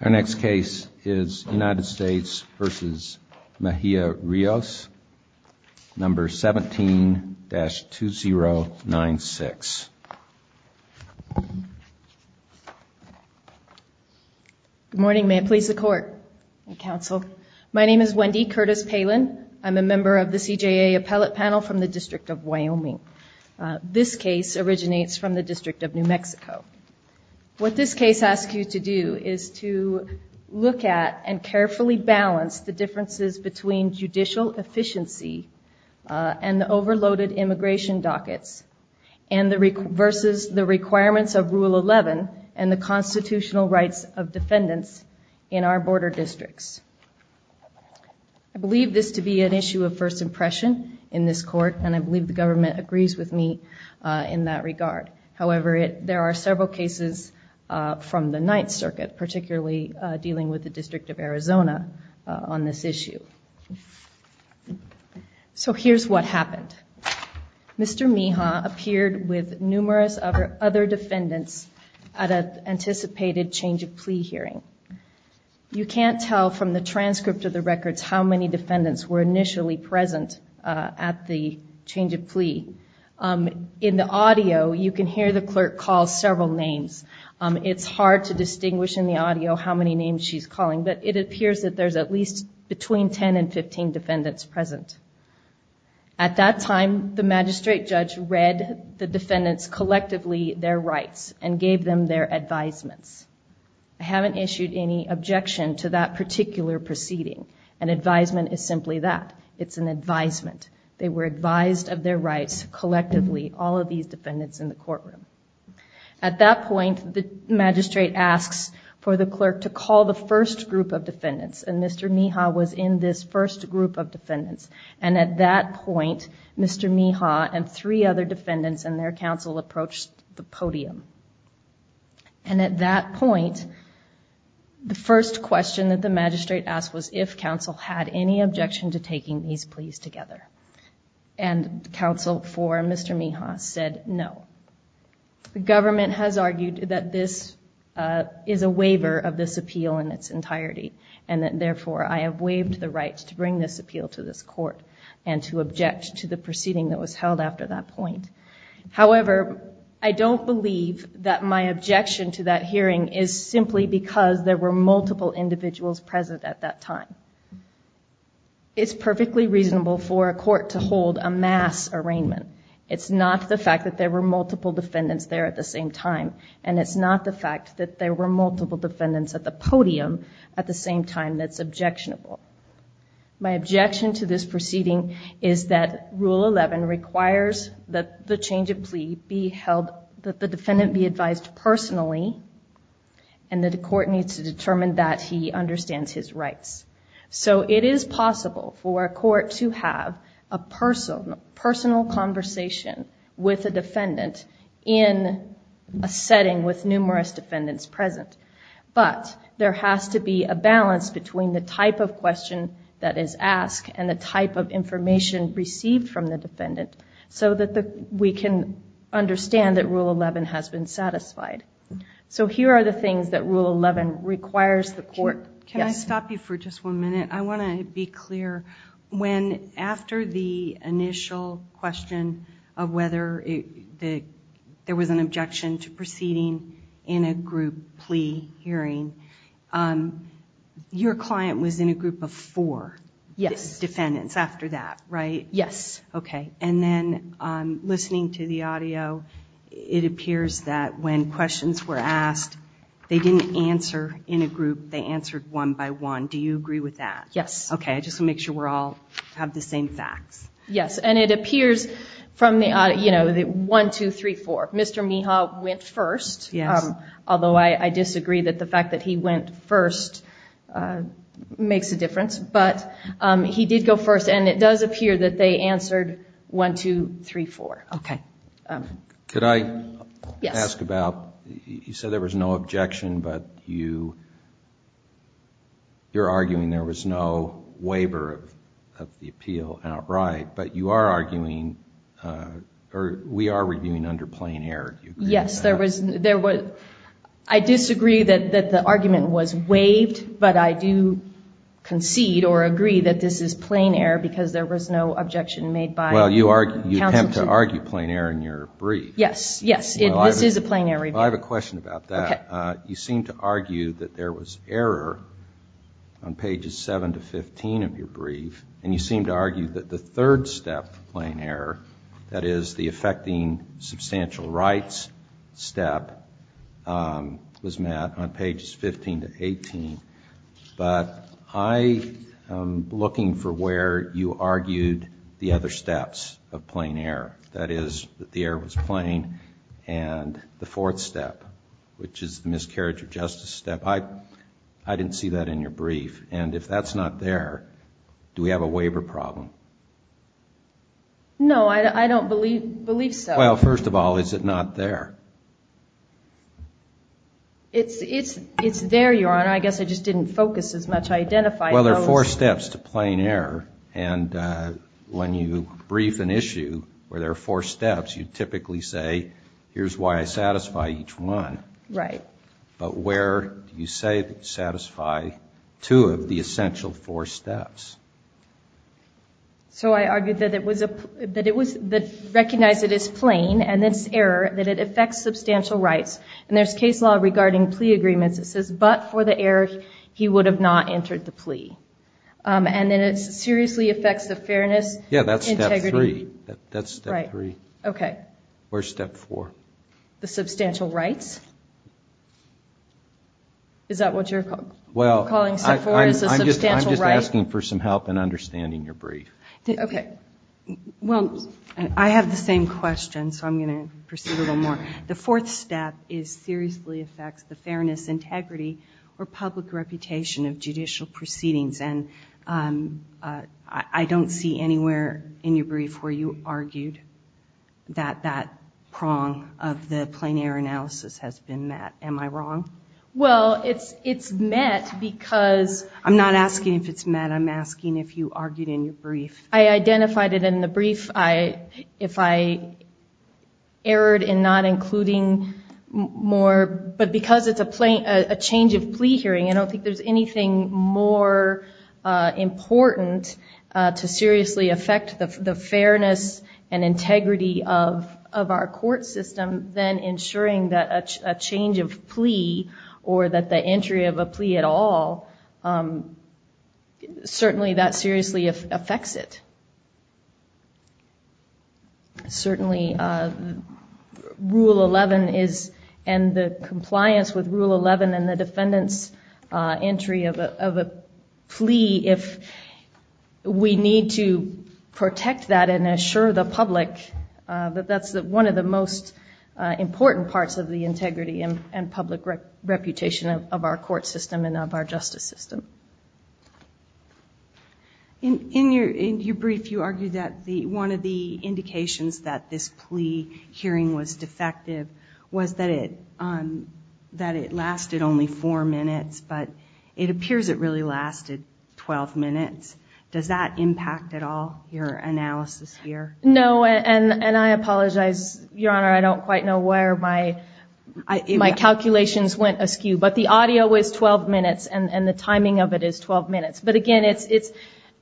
Our next case is United States v. Mejia-Rios, number 17-2096. Good morning. May it please the Court and Counsel. My name is Wendy Curtis-Palin. I'm a member of the CJA Appellate Panel from the District of Wyoming. This case originates from the District of New Mexico. What this case asks you to do is to look at and carefully balance the differences between judicial efficiency and the overloaded immigration dockets versus the requirements of Rule 11 and the constitutional rights of defendants in our border districts. I believe this to be an issue of first impression in this court and I believe the government agrees with me in that regard. However, there are several cases from the Ninth Circuit, particularly dealing with the District of Arizona on this issue. So here's what happened. Mr. Mejia appeared with numerous other defendants at an anticipated change of plea hearing. You can't tell from the transcript of the records how many defendants were initially present at the change of plea. In the audio, you can hear the clerk call several names. It's hard to distinguish in the audio how many names she's calling, but it appears that there's at least between 10 and 15 defendants present. At that time, the magistrate judge read the defendants' collectively their rights and gave them their advisements. I haven't issued any objection to that particular proceeding. An advisement is simply that. It's an advisement. They were advised of their rights collectively, all of these defendants in the courtroom. At that point, the magistrate asks for the clerk to call the first group of defendants and Mr. Mejia was in this first group of defendants. At that point, Mr. Mejia and three other defendants and their counsel approached the podium. At that point, the first question that the magistrate asked was if counsel had any objection to taking these pleas and counsel for Mr. Mejia said no. The government has argued that this is a waiver of this appeal in its entirety and that therefore, I have waived the right to bring this appeal to this court and to object to the proceeding that was held after that point. However, I don't believe that my objection to that hearing is simply because there were multiple individuals present at that time. It's perfectly reasonable for a court to hold a mass arraignment. It's not the fact that there were multiple defendants there at the same time and it's not the fact that there were multiple defendants at the podium at the same time that's objectionable. My objection to this proceeding is that Rule 11 requires that the change of plea be held, that the defendant be advised personally and that the court needs to determine that he understands his rights. So it is possible for a court to have a personal conversation with a defendant in a setting with numerous defendants present but there has to be a balance between the type of question that is asked and the type of information received from the defendant so that we can understand that Rule 11 has been satisfied. So here are the things that Rule 11 requires the court. Can I stop you for just one minute? I want to be clear. When after the initial question of whether there was an objection to proceeding in a group plea hearing, your client was in a group of four defendants after that, right? Yes. Okay, and then listening to the audio, it appears that when questions were asked, they didn't answer in a group. They answered one by one. Do you agree with that? Yes. Okay, just to make sure we all have the same facts. Yes, and it appears from the audio, you know, that one, two, three, four, Mr. Miha went first, although I disagree that the fact that he went first makes a difference, but he did go first and it does appear that they answered one, two, three, four. Okay. Could I ask about, you said there was no objection, but you're arguing there was no waiver of the appeal outright, but you are arguing, or we are reviewing under plain error. Yes, there was, I disagree that the argument was because there was no objection made by counsel. Well, you attempt to argue plain error in your brief. Yes, yes, this is a plain error. Well, I have a question about that. Okay. You seem to argue that there was error on pages 7 to 15 of your brief, and you seem to argue that the third step of plain error, that is the affecting substantial rights step, was met on pages 15 to 18, but I am looking for where you argued the other steps of plain error. That is, that the error was plain, and the fourth step, which is the miscarriage of justice step. I didn't see that in your brief, and if that's not there, do we have a waiver problem? No, I don't believe so. Well, first of all, is it not there? It's there, Your Honor. I guess I just didn't focus as much. I identified those. Well, there are four steps to plain error, and when you brief an issue where there are four steps. So I argued that it was, that it was, that recognized it as plain, and it's error, that it affects substantial rights, and there's case law regarding plea agreements that says, but for the error, he would have not entered the plea, and then it seriously affects the fairness, integrity. Yeah, that's step three. That's step three. Right. Okay. Where's step four? The substantial rights? Is that what you're calling step four, is the substantial rights? Well, I'm just asking for some help in understanding your brief. Okay. Well, I have the same question, so I'm going to proceed a little more. The fourth step is seriously affects the fairness, integrity, or public reputation of judicial proceedings, and I don't see anywhere in your brief where you argued that that prong of the plain error analysis has been met. Am I wrong? Well, it's met because... I'm not asking if it's met. I'm asking if you argued in your brief. I identified it in the brief. If I erred in not including more, but because it's a change of plea hearing, I don't think there's anything more important to seriously affect the fairness and integrity of our court system than ensuring that a change of plea, or that the entry of a plea at all, certainly that seriously affects it. Certainly, Rule 11 is, and the most important parts of the integrity and public reputation of our court system and of our justice system. In your brief, you argued that one of the indications that this plea hearing was defective was that it lasted only four minutes, but it appears it really lasted 12 minutes. Does that impact at all, your analysis here? No, and I apologize, Your Honor. I don't quite know where my calculations went askew, but the audio is 12 minutes, and the timing of it is 12 minutes. But again,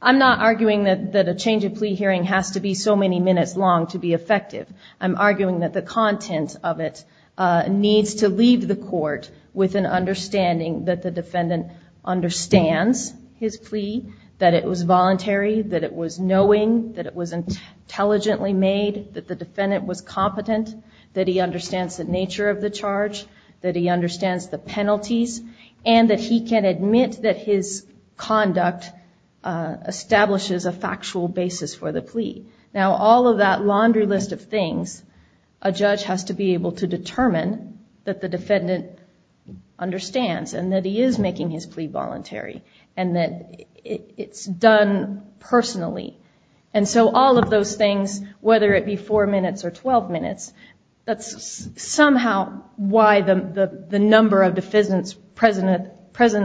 I'm not arguing that a change of plea hearing has to be so many minutes long to be effective. I'm arguing that the content of it needs to leave the court with an understanding that the defendant understands his plea, that it was voluntary, that it was knowing, that it was intelligently made, that the defendant was competent, that he understands the nature of the charge, that he understands the penalties, and that he can admit that his conduct establishes a and that he is making his plea voluntary, and that it's done personally. And so all of those things, whether it be four minutes or 12 minutes, that's somehow why the number of defendants present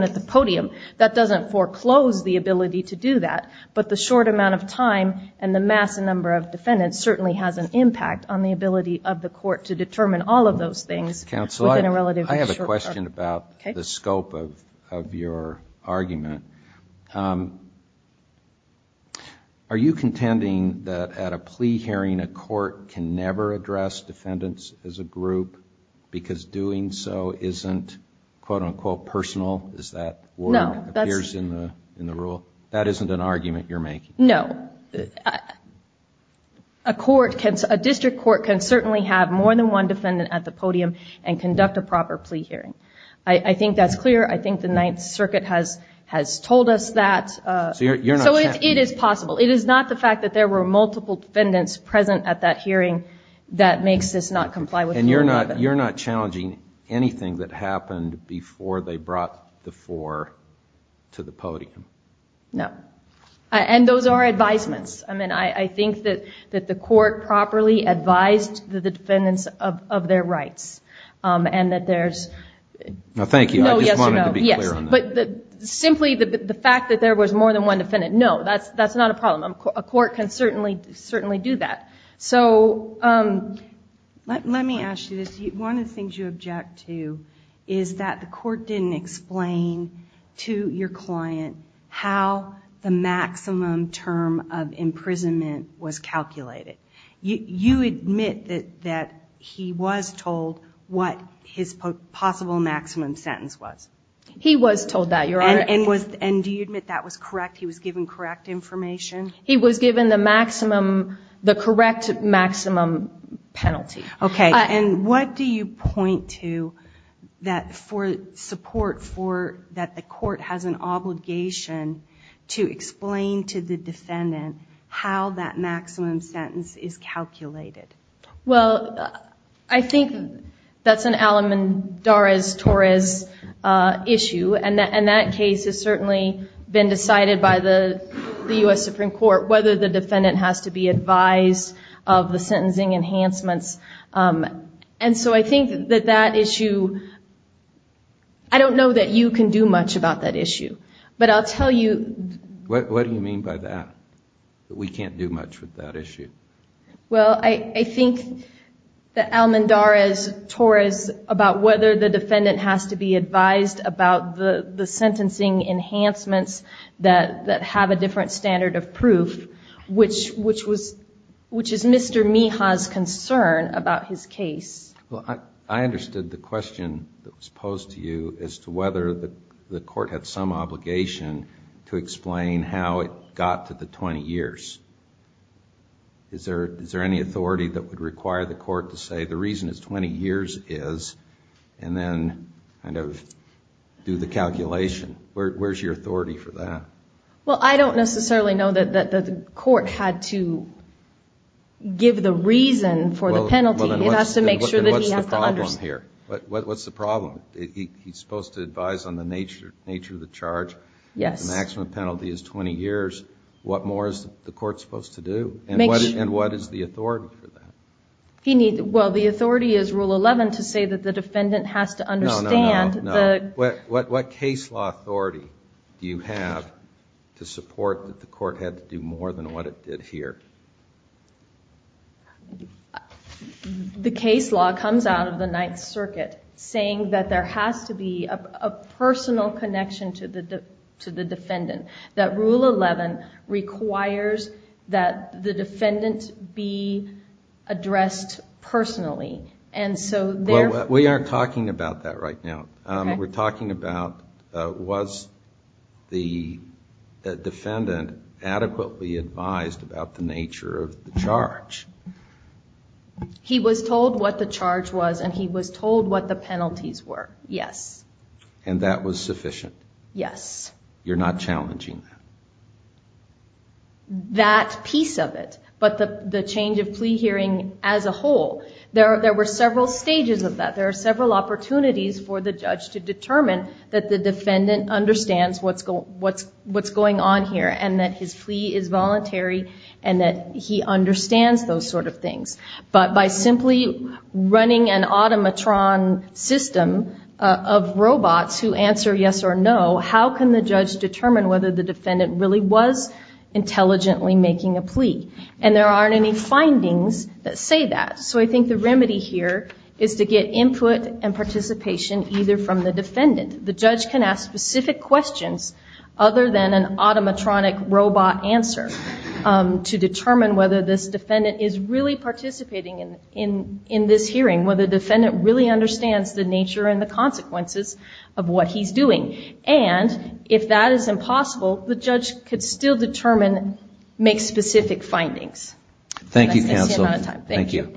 at the podium. That doesn't foreclose the ability to do that, but the short amount of time and the massive number of defendants certainly has an I have a question about the scope of your argument. Are you contending that at a plea hearing, a court can never address defendants as a group because doing so isn't personal? Is that what appears in the rule? That isn't an argument you're making? No. A district court can certainly have more than one defendant at the podium and conduct a proper plea hearing. I think that's clear. I think the Ninth Circuit has told us that. So it is possible. It is not the fact that there were multiple defendants present at that before they brought the four to the podium. No. And those are advisements. I mean, I think that the court properly advised the defendants of their rights and that there's No, thank you. I just wanted to be clear on that. Yes. But simply the fact that there was more than one defendant, no, that's not a problem. A court can certainly do that. So let me ask you this. One of the things you object to is that the court didn't explain to your client how the maximum term of imprisonment was calculated. You admit that he was told what his possible maximum sentence was. He was told that, Your Honor. And do you admit that was correct? He was given correct information? He was given the correct maximum penalty. Okay. And what do you point to for support that the court has an obligation to explain to the defendant how that maximum sentence is calculated? Well, I think that's an Alamandarez-Torres issue. And that case has certainly been decided by the U.S. Supreme Court, whether the defendant has to be advised of the sentencing enhancements. And so I think that that issue, I don't know that you can do much about that issue. But I'll tell you What do you mean by that? That we can't do much with that issue? Well, I think that Alamandarez-Torres about whether the defendant has to be advised about the sentencing enhancements that have a different standard of proof, which is Mr. Miha's concern about his case. Well, I understood the question that was posed to you as to whether the court had some obligation to explain how it got to the 20 years. Is there any authority that would require the court to say the reason is 20 years is, and then kind of do the calculation? Where's your authority for that? Well, I don't necessarily know that the court had to give the reason for the penalty. It has to make sure that he has to understand. What's the problem here? What's the problem? He's supposed to advise on the nature of the charge. The maximum penalty is 20 years. What more is the court supposed to do? And what is the authority for that? Well, the authority is Rule 11 to say that the defendant has to understand. No, no, no. What case law authority do you have to support that the court had to do more than what it did here? The case law comes out of the Ninth Circuit saying that there has to be a personal connection to the defendant. That Rule 11 requires that the defendant be addressed personally. Well, we aren't talking about that right now. We're talking about was the defendant adequately advised about the nature of the charge? He was told what the charge was and he was told what the penalties were, yes. And that was sufficient? Yes. You're not challenging that? That piece of it, but the change of plea hearing as a whole. There were several stages of that. There were several opportunities for the judge to determine that the defendant understands what's going on here and that his plea is voluntary and that he understands those sort of things. But by simply running an automatron system of robots who answer yes or no, how can the judge determine whether the defendant really was intelligently making a plea? And there aren't any findings that say that. So I think the remedy here is to get input and participation either from the defendant. The judge can ask specific questions other than an automatronic robot answer to determine whether this defendant is really participating in this hearing, whether the defendant really understands the nature and the consequences of what he's doing. And if that is impossible, the judge could still determine, make specific findings. Thank you counsel. Thank you.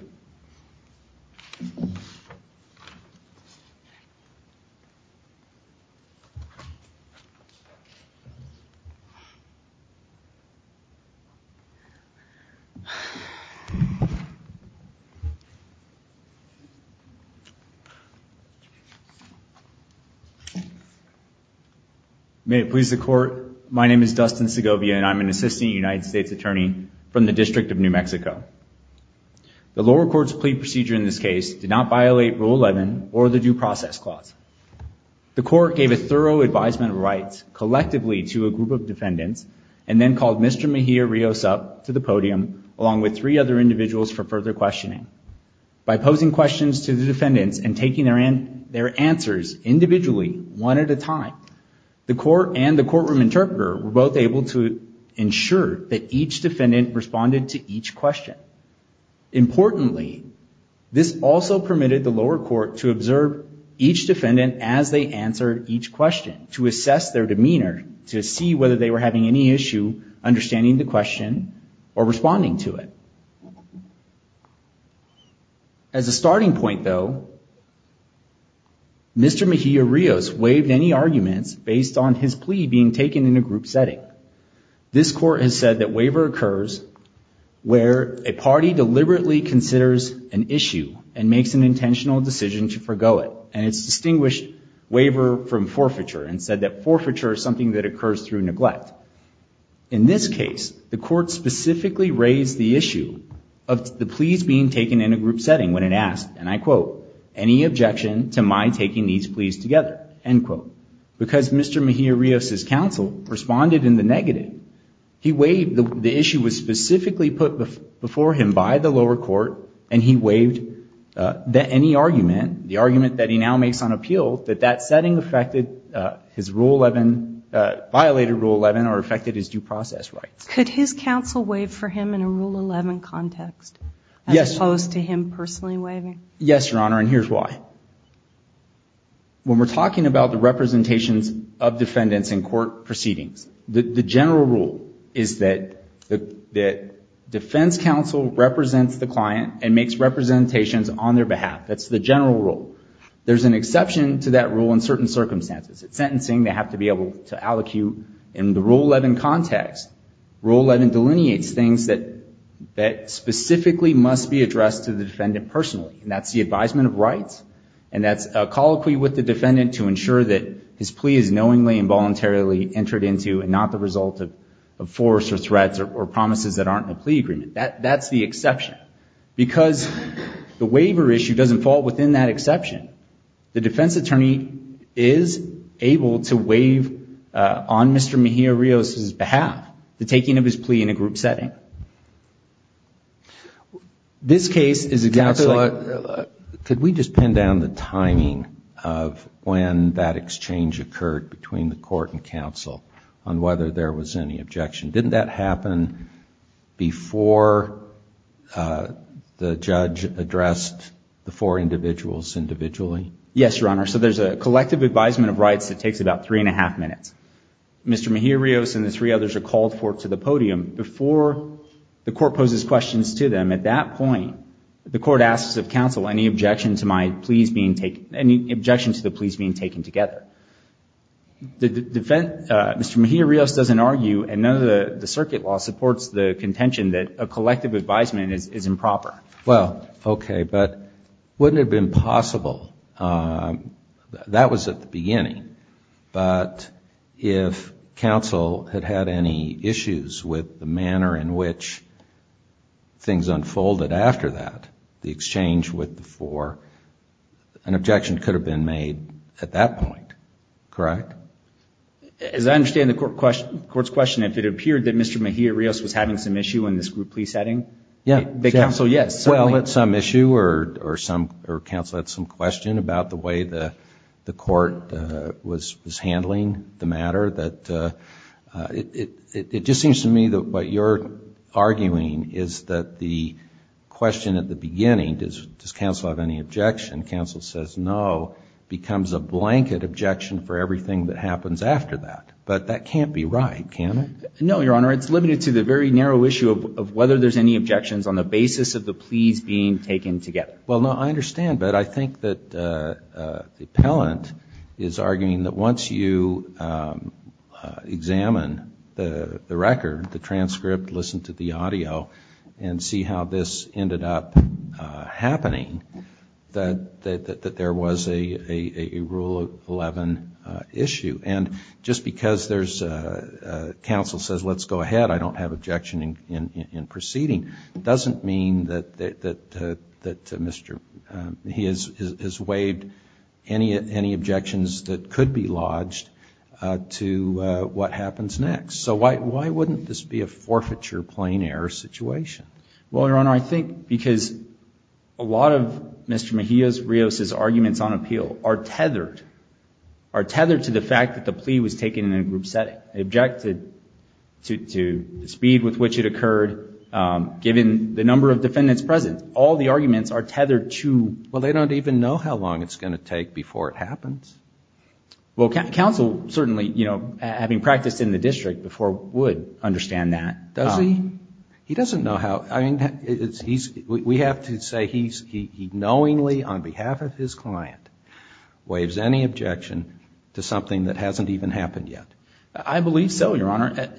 May it please the court. My name is Dustin Segovia and I'm an assistant United States attorney from the District of New Mexico. The lower court's plea procedure in this case did not violate Rule 11 or the Due Process Clause. The court gave a thorough advisement of rights collectively to a group of defendants and then called Mr. Mejia Rios up to the podium along with three other individuals for further questioning. By posing questions to the defendants and taking their answers individually one at a time, the court and the courtroom interpreter were both able to ensure that each defendant responded to each question. Importantly, this also permitted the lower court to observe each defendant as they answered each question, to assess their demeanor, to see whether they were having any issue understanding the question or responding to it. As a starting point though, Mr. Mejia Rios waived any arguments based on his plea being taken in a group setting. This court has said that waiver occurs where a party deliberately considers an issue and makes an intentional decision to forgo it. And it's distinguished waiver from forfeiture and said that forfeiture is something that occurs through neglect. In this case, the court specifically raised the issue of the pleas being taken in a group setting when it asked, and I quote, any objection to my taking these pleas together, end quote. Because Mr. Mejia Rios' counsel responded in the negative, the issue was specifically put before him by the lower court and he waived any argument, the argument that he now makes on appeal, that that setting affected his Rule 11, violated Rule 11 or affected his due process rights. Could his counsel waive for him in a Rule 11 context as opposed to him personally waiving? Yes, Your Honor, and here's why. When we're talking about the representations of defendants in court proceedings, the general rule is that defense counsel represents the client and makes representations on their behalf. That's the general rule. There's an exception to that rule in certain circumstances. At sentencing, they have to be able to allocute in the Rule 11 context. Rule 11 delineates things that specifically must be addressed to the defendant personally. And that's the advisement of rights, and that's a colloquy with the defendant to ensure that his plea is knowingly and voluntarily entered into and not the result of force or threats or promises that aren't in a plea agreement. That's the exception. Because the waiver issue doesn't fall within that exception, the defense attorney is able to waive on Mr. Mejia-Rios' behalf the taking of his plea in a group setting. This case is exactly like... Could we just pin down the timing of when that exchange occurred between the court and counsel on whether there was any objection? Didn't that happen before the judge addressed the four individuals individually? Yes, Your Honor. So there's a collective advisement of rights that takes about three-and-a-half minutes. Mr. Mejia-Rios and the three others are called forth to the podium. Before the court poses questions to them, at that point, the court asks of counsel any objection to the pleas being taken together. Mr. Mejia-Rios doesn't argue, and none of the circuit law supports the contention that a collective advisement is improper. Well, okay, but wouldn't it have been possible? That was at the beginning. But if counsel had had any issues with the manner in which things unfolded after that, the exchange with the four, an objection could have been made at that point. Correct? As I understand the court's question, if it appeared that Mr. Mejia-Rios was having some issue in this group plea setting, that counsel, yes, certainly... Well, it's some issue or counsel had some question about the way the court was handling the matter. It just seems to me that what you're arguing is that the question at the beginning, does counsel have any objection, counsel says no, becomes a blanket objection for everything that happens after that. But that can't be right, can it? No, Your Honor, it's limited to the very narrow issue of whether there's any objections on the basis of the pleas being taken together. Well, no, I understand, but I think that the appellant is arguing that once you examine the record, the transcript, listen to the audio, and see how this ended up happening, that there was a Rule 11 issue. And just because counsel says, let's go ahead, I don't have objection in proceeding, doesn't mean that he has waived any objections that could be lodged to what happens next. So why wouldn't this be a forfeiture, plain error situation? Well, Your Honor, I think because a lot of Mr. Mejia's, Rios' arguments on appeal are tethered, are tethered to the fact that the plea was taken in a group setting. They objected to the speed with which it occurred, given the number of defendants present. All the arguments are tethered to... Well, they don't even know how long it's going to take before it happens. Well, counsel certainly, you know, having practiced in the district before would understand that. Does he? He doesn't know how, I mean, we have to say he knowingly, on behalf of his client, waives any objection to something that hasn't even happened yet. I believe so, Your Honor.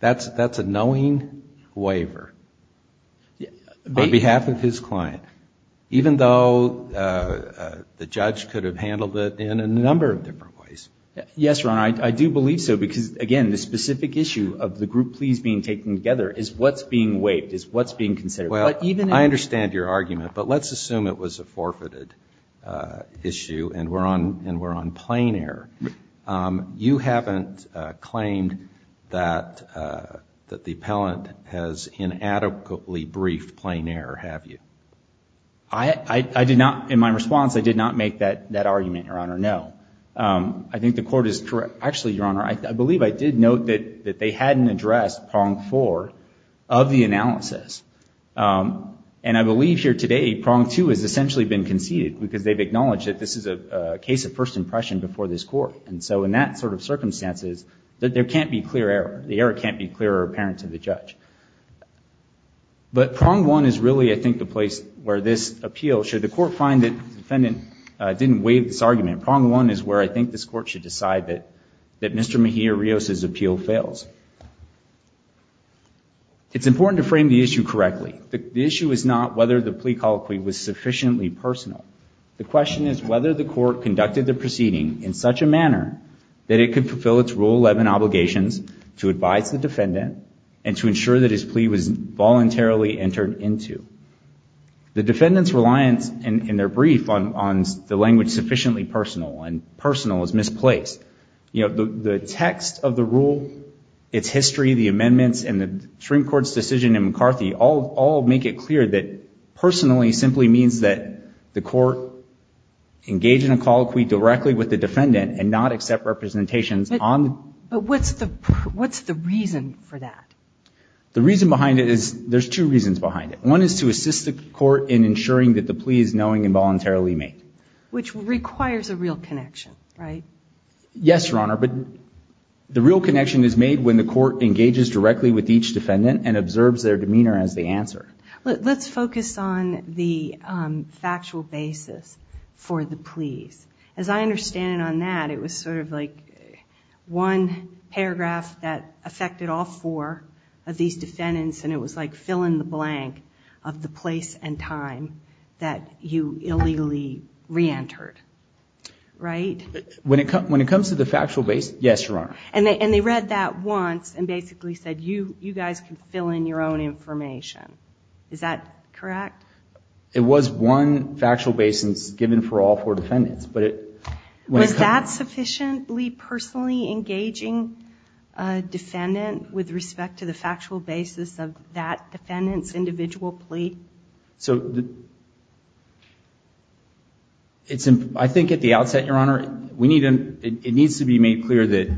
That's a knowing waiver on behalf of his client, even though the judge could have handled it in a number of different ways. Yes, Your Honor, I do believe so, because again, the specific issue of the group pleas being taken together is what's being waived, is what's being considered. Well, I understand your argument, but let's assume it was a forfeited issue and we're on plain error. You haven't claimed that the appellant has inadequately briefed plain error, have you? I did not, in my response, I did not make that argument, Your Honor, no. I think the court is correct. Actually, Your Honor, I believe I did note that they hadn't addressed prong four of the analysis. And I believe here today, prong two has essentially been conceded, because they've acknowledged that this is a case of first impression before this court. And so in that sort of circumstances, there can't be clear error. The error can't be clear or apparent to the judge. So I think that's where this appeal, should the court find that the defendant didn't waive this argument, prong one is where I think this court should decide that Mr. Mejia-Rios' appeal fails. It's important to frame the issue correctly. The issue is not whether the plea colloquy was sufficiently personal. The question is whether the court conducted the proceeding in such a manner that it could fulfill its Rule 11 obligations to advise the defendant and to ensure that his plea was sufficiently personal. The defendant's reliance in their brief on the language sufficiently personal and personal is misplaced. You know, the text of the rule, its history, the amendments and the Supreme Court's decision in McCarthy all make it clear that personally simply means that the court engage in a colloquy directly with the defendant and not accept representations on the court. The reason behind it is, there's two reasons behind it. One is to assist the court in ensuring that the plea is knowing and voluntarily made. Yes, Your Honor, but the real connection is made when the court engages directly with each defendant and observes their demeanor as they answer. Let's focus on the factual basis for the pleas. As I understand it on that, it was sort of like one paragraph that affected all four of the defendants, and it was like fill in the blank of the place and time that you illegally reentered, right? When it comes to the factual basis, yes, Your Honor. And they read that once and basically said, you guys can fill in your own information. Is that correct? It was one factual basis given for all four defendants, but it... Was that sufficiently personally engaging a defendant with respect to the factual basis of the plea? So, I think at the outset, Your Honor, it needs to be made clear that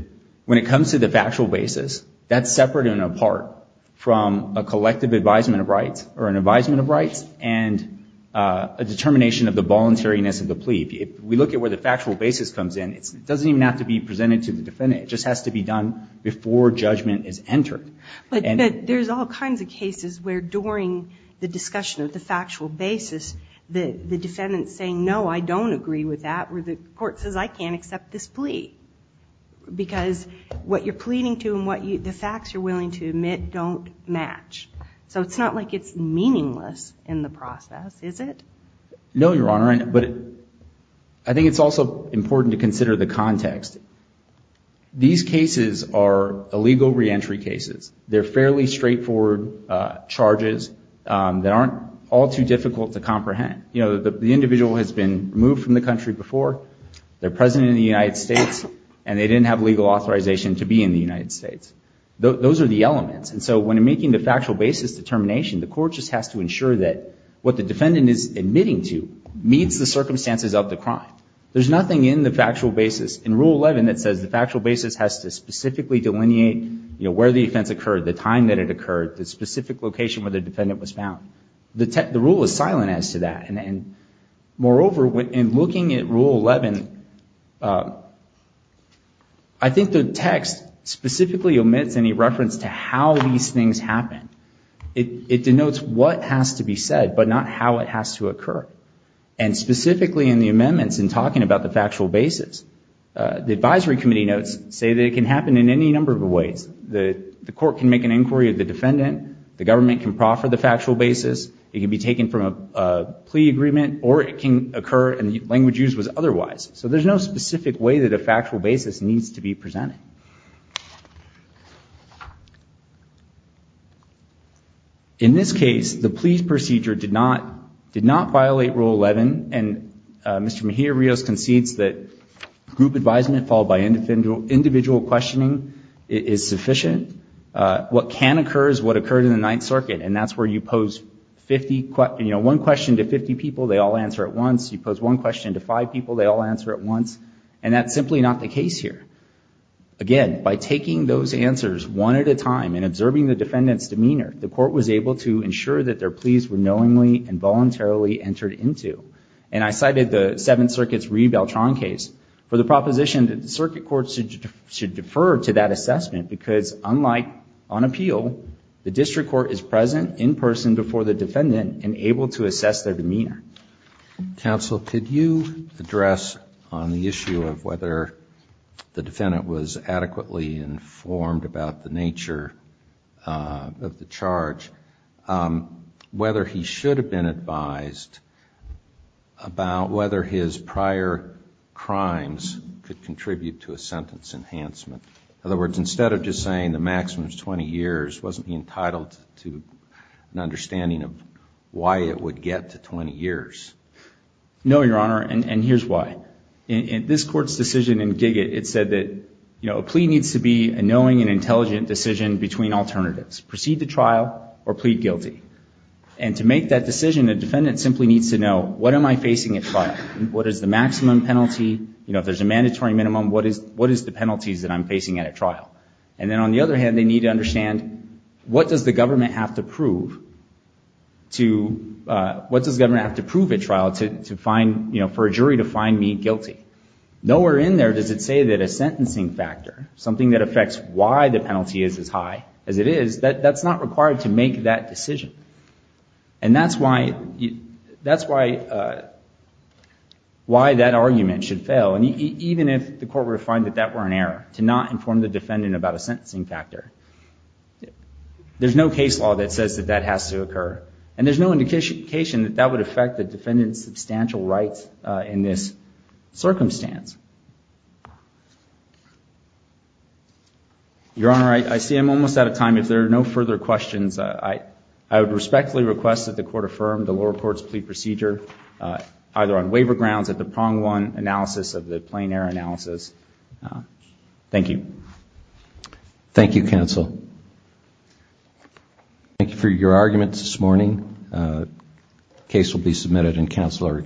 when it comes to the factual basis, that's separate and apart from a collective advisement of rights or an advisement of rights and a determination of the voluntariness of the plea. If we look at where the factual basis comes in, it doesn't even have to be presented to the defendant. It just has to be done before judgment is entered. But there's all kinds of cases where during the discussion of the factual basis, the defendant's saying, no, I don't agree with that, or the court says, I can't accept this plea, because what you're pleading to and the facts you're willing to admit don't match. So it's not like it's meaningless in the process, is it? No, Your Honor, but I think it's also important to consider the context. These are legal reentry cases. They're fairly straightforward charges that aren't all too difficult to comprehend. You know, the individual has been moved from the country before, they're present in the United States, and they didn't have legal authorization to be in the United States. Those are the elements. And so when making the factual basis determination, the court just has to ensure that what the defendant is admitting to meets the where the offense occurred, the time that it occurred, the specific location where the defendant was found. The rule is silent as to that. And moreover, in looking at Rule 11, I think the text specifically omits any reference to how these things happen. It denotes what has to be said, but not how it has to occur. And specifically in the amendments, in talking about the factual basis, the advisory committee notes say that it can happen in any number of ways. The court can make an inquiry of the defendant, the government can proffer the factual basis, it can be taken from a plea agreement, or it can occur and the language used was otherwise. So there's no specific way that a factual basis needs to be presented. In this case, the plea procedure did not violate Rule 11, and Mr. Mejia-Rios concedes that group advisement followed by individual questioning is sufficient. What can occur is what occurred in the Ninth Circuit, and that's where you pose one question to 50 people, they all answer it once. You pose one question to five people, they all answer it once. And that's simply not the case here. Again, by taking those answers one at a time and observing the defendant's demeanor, the court was able to ensure that their pleas were knowingly and voluntarily entered into. And I cited the Seventh Circuit's Reed-Beltran case for the proposition that the circuit court should defer to that assessment because unlike on appeal, the district court is present in person before the defendant and able to assess their demeanor. Counsel, could you address on the issue of whether the defendant was adequately informed about the nature of the charge, whether he should have been advised about whether his prior crimes could contribute to a sentence enhancement? In other words, instead of just saying the maximum is 20 years, wasn't he entitled to an understanding of why it would get to 20 years? No, Your Honor, and here's why. In this Court's decision in Giggitt, it said that a plea needs to be a knowing and intelligent decision between alternatives, proceed to trial or plead guilty. And to make that decision, a defendant simply needs to know, what am I facing at trial? What is the maximum penalty? If there's a mandatory minimum, what is the penalties that I'm facing at a trial? And then on the other hand, they need to understand, what does the government have to prove at trial for a jury to find me guilty? Nowhere in there does it say that a sentencing factor, something that affects why the penalty is as high as it is, that's not required to make that decision. And that's why that argument should fail. And even if the court were to find that that were an error, to not inform the defendant about a sentencing factor, there's no case law that says that that has to occur. And there's no indication that that would be a good, substantial right in this circumstance. Your Honor, I see I'm almost out of time. If there are no further questions, I would respectfully request that the Court affirm the lower Court's plea procedure, either on waiver grounds or the prong one analysis of the plain error analysis. Thank you. Thank you, counsel. Thank you for your arguments this morning. The case will be submitted in counsel's favor. Counsel are excused.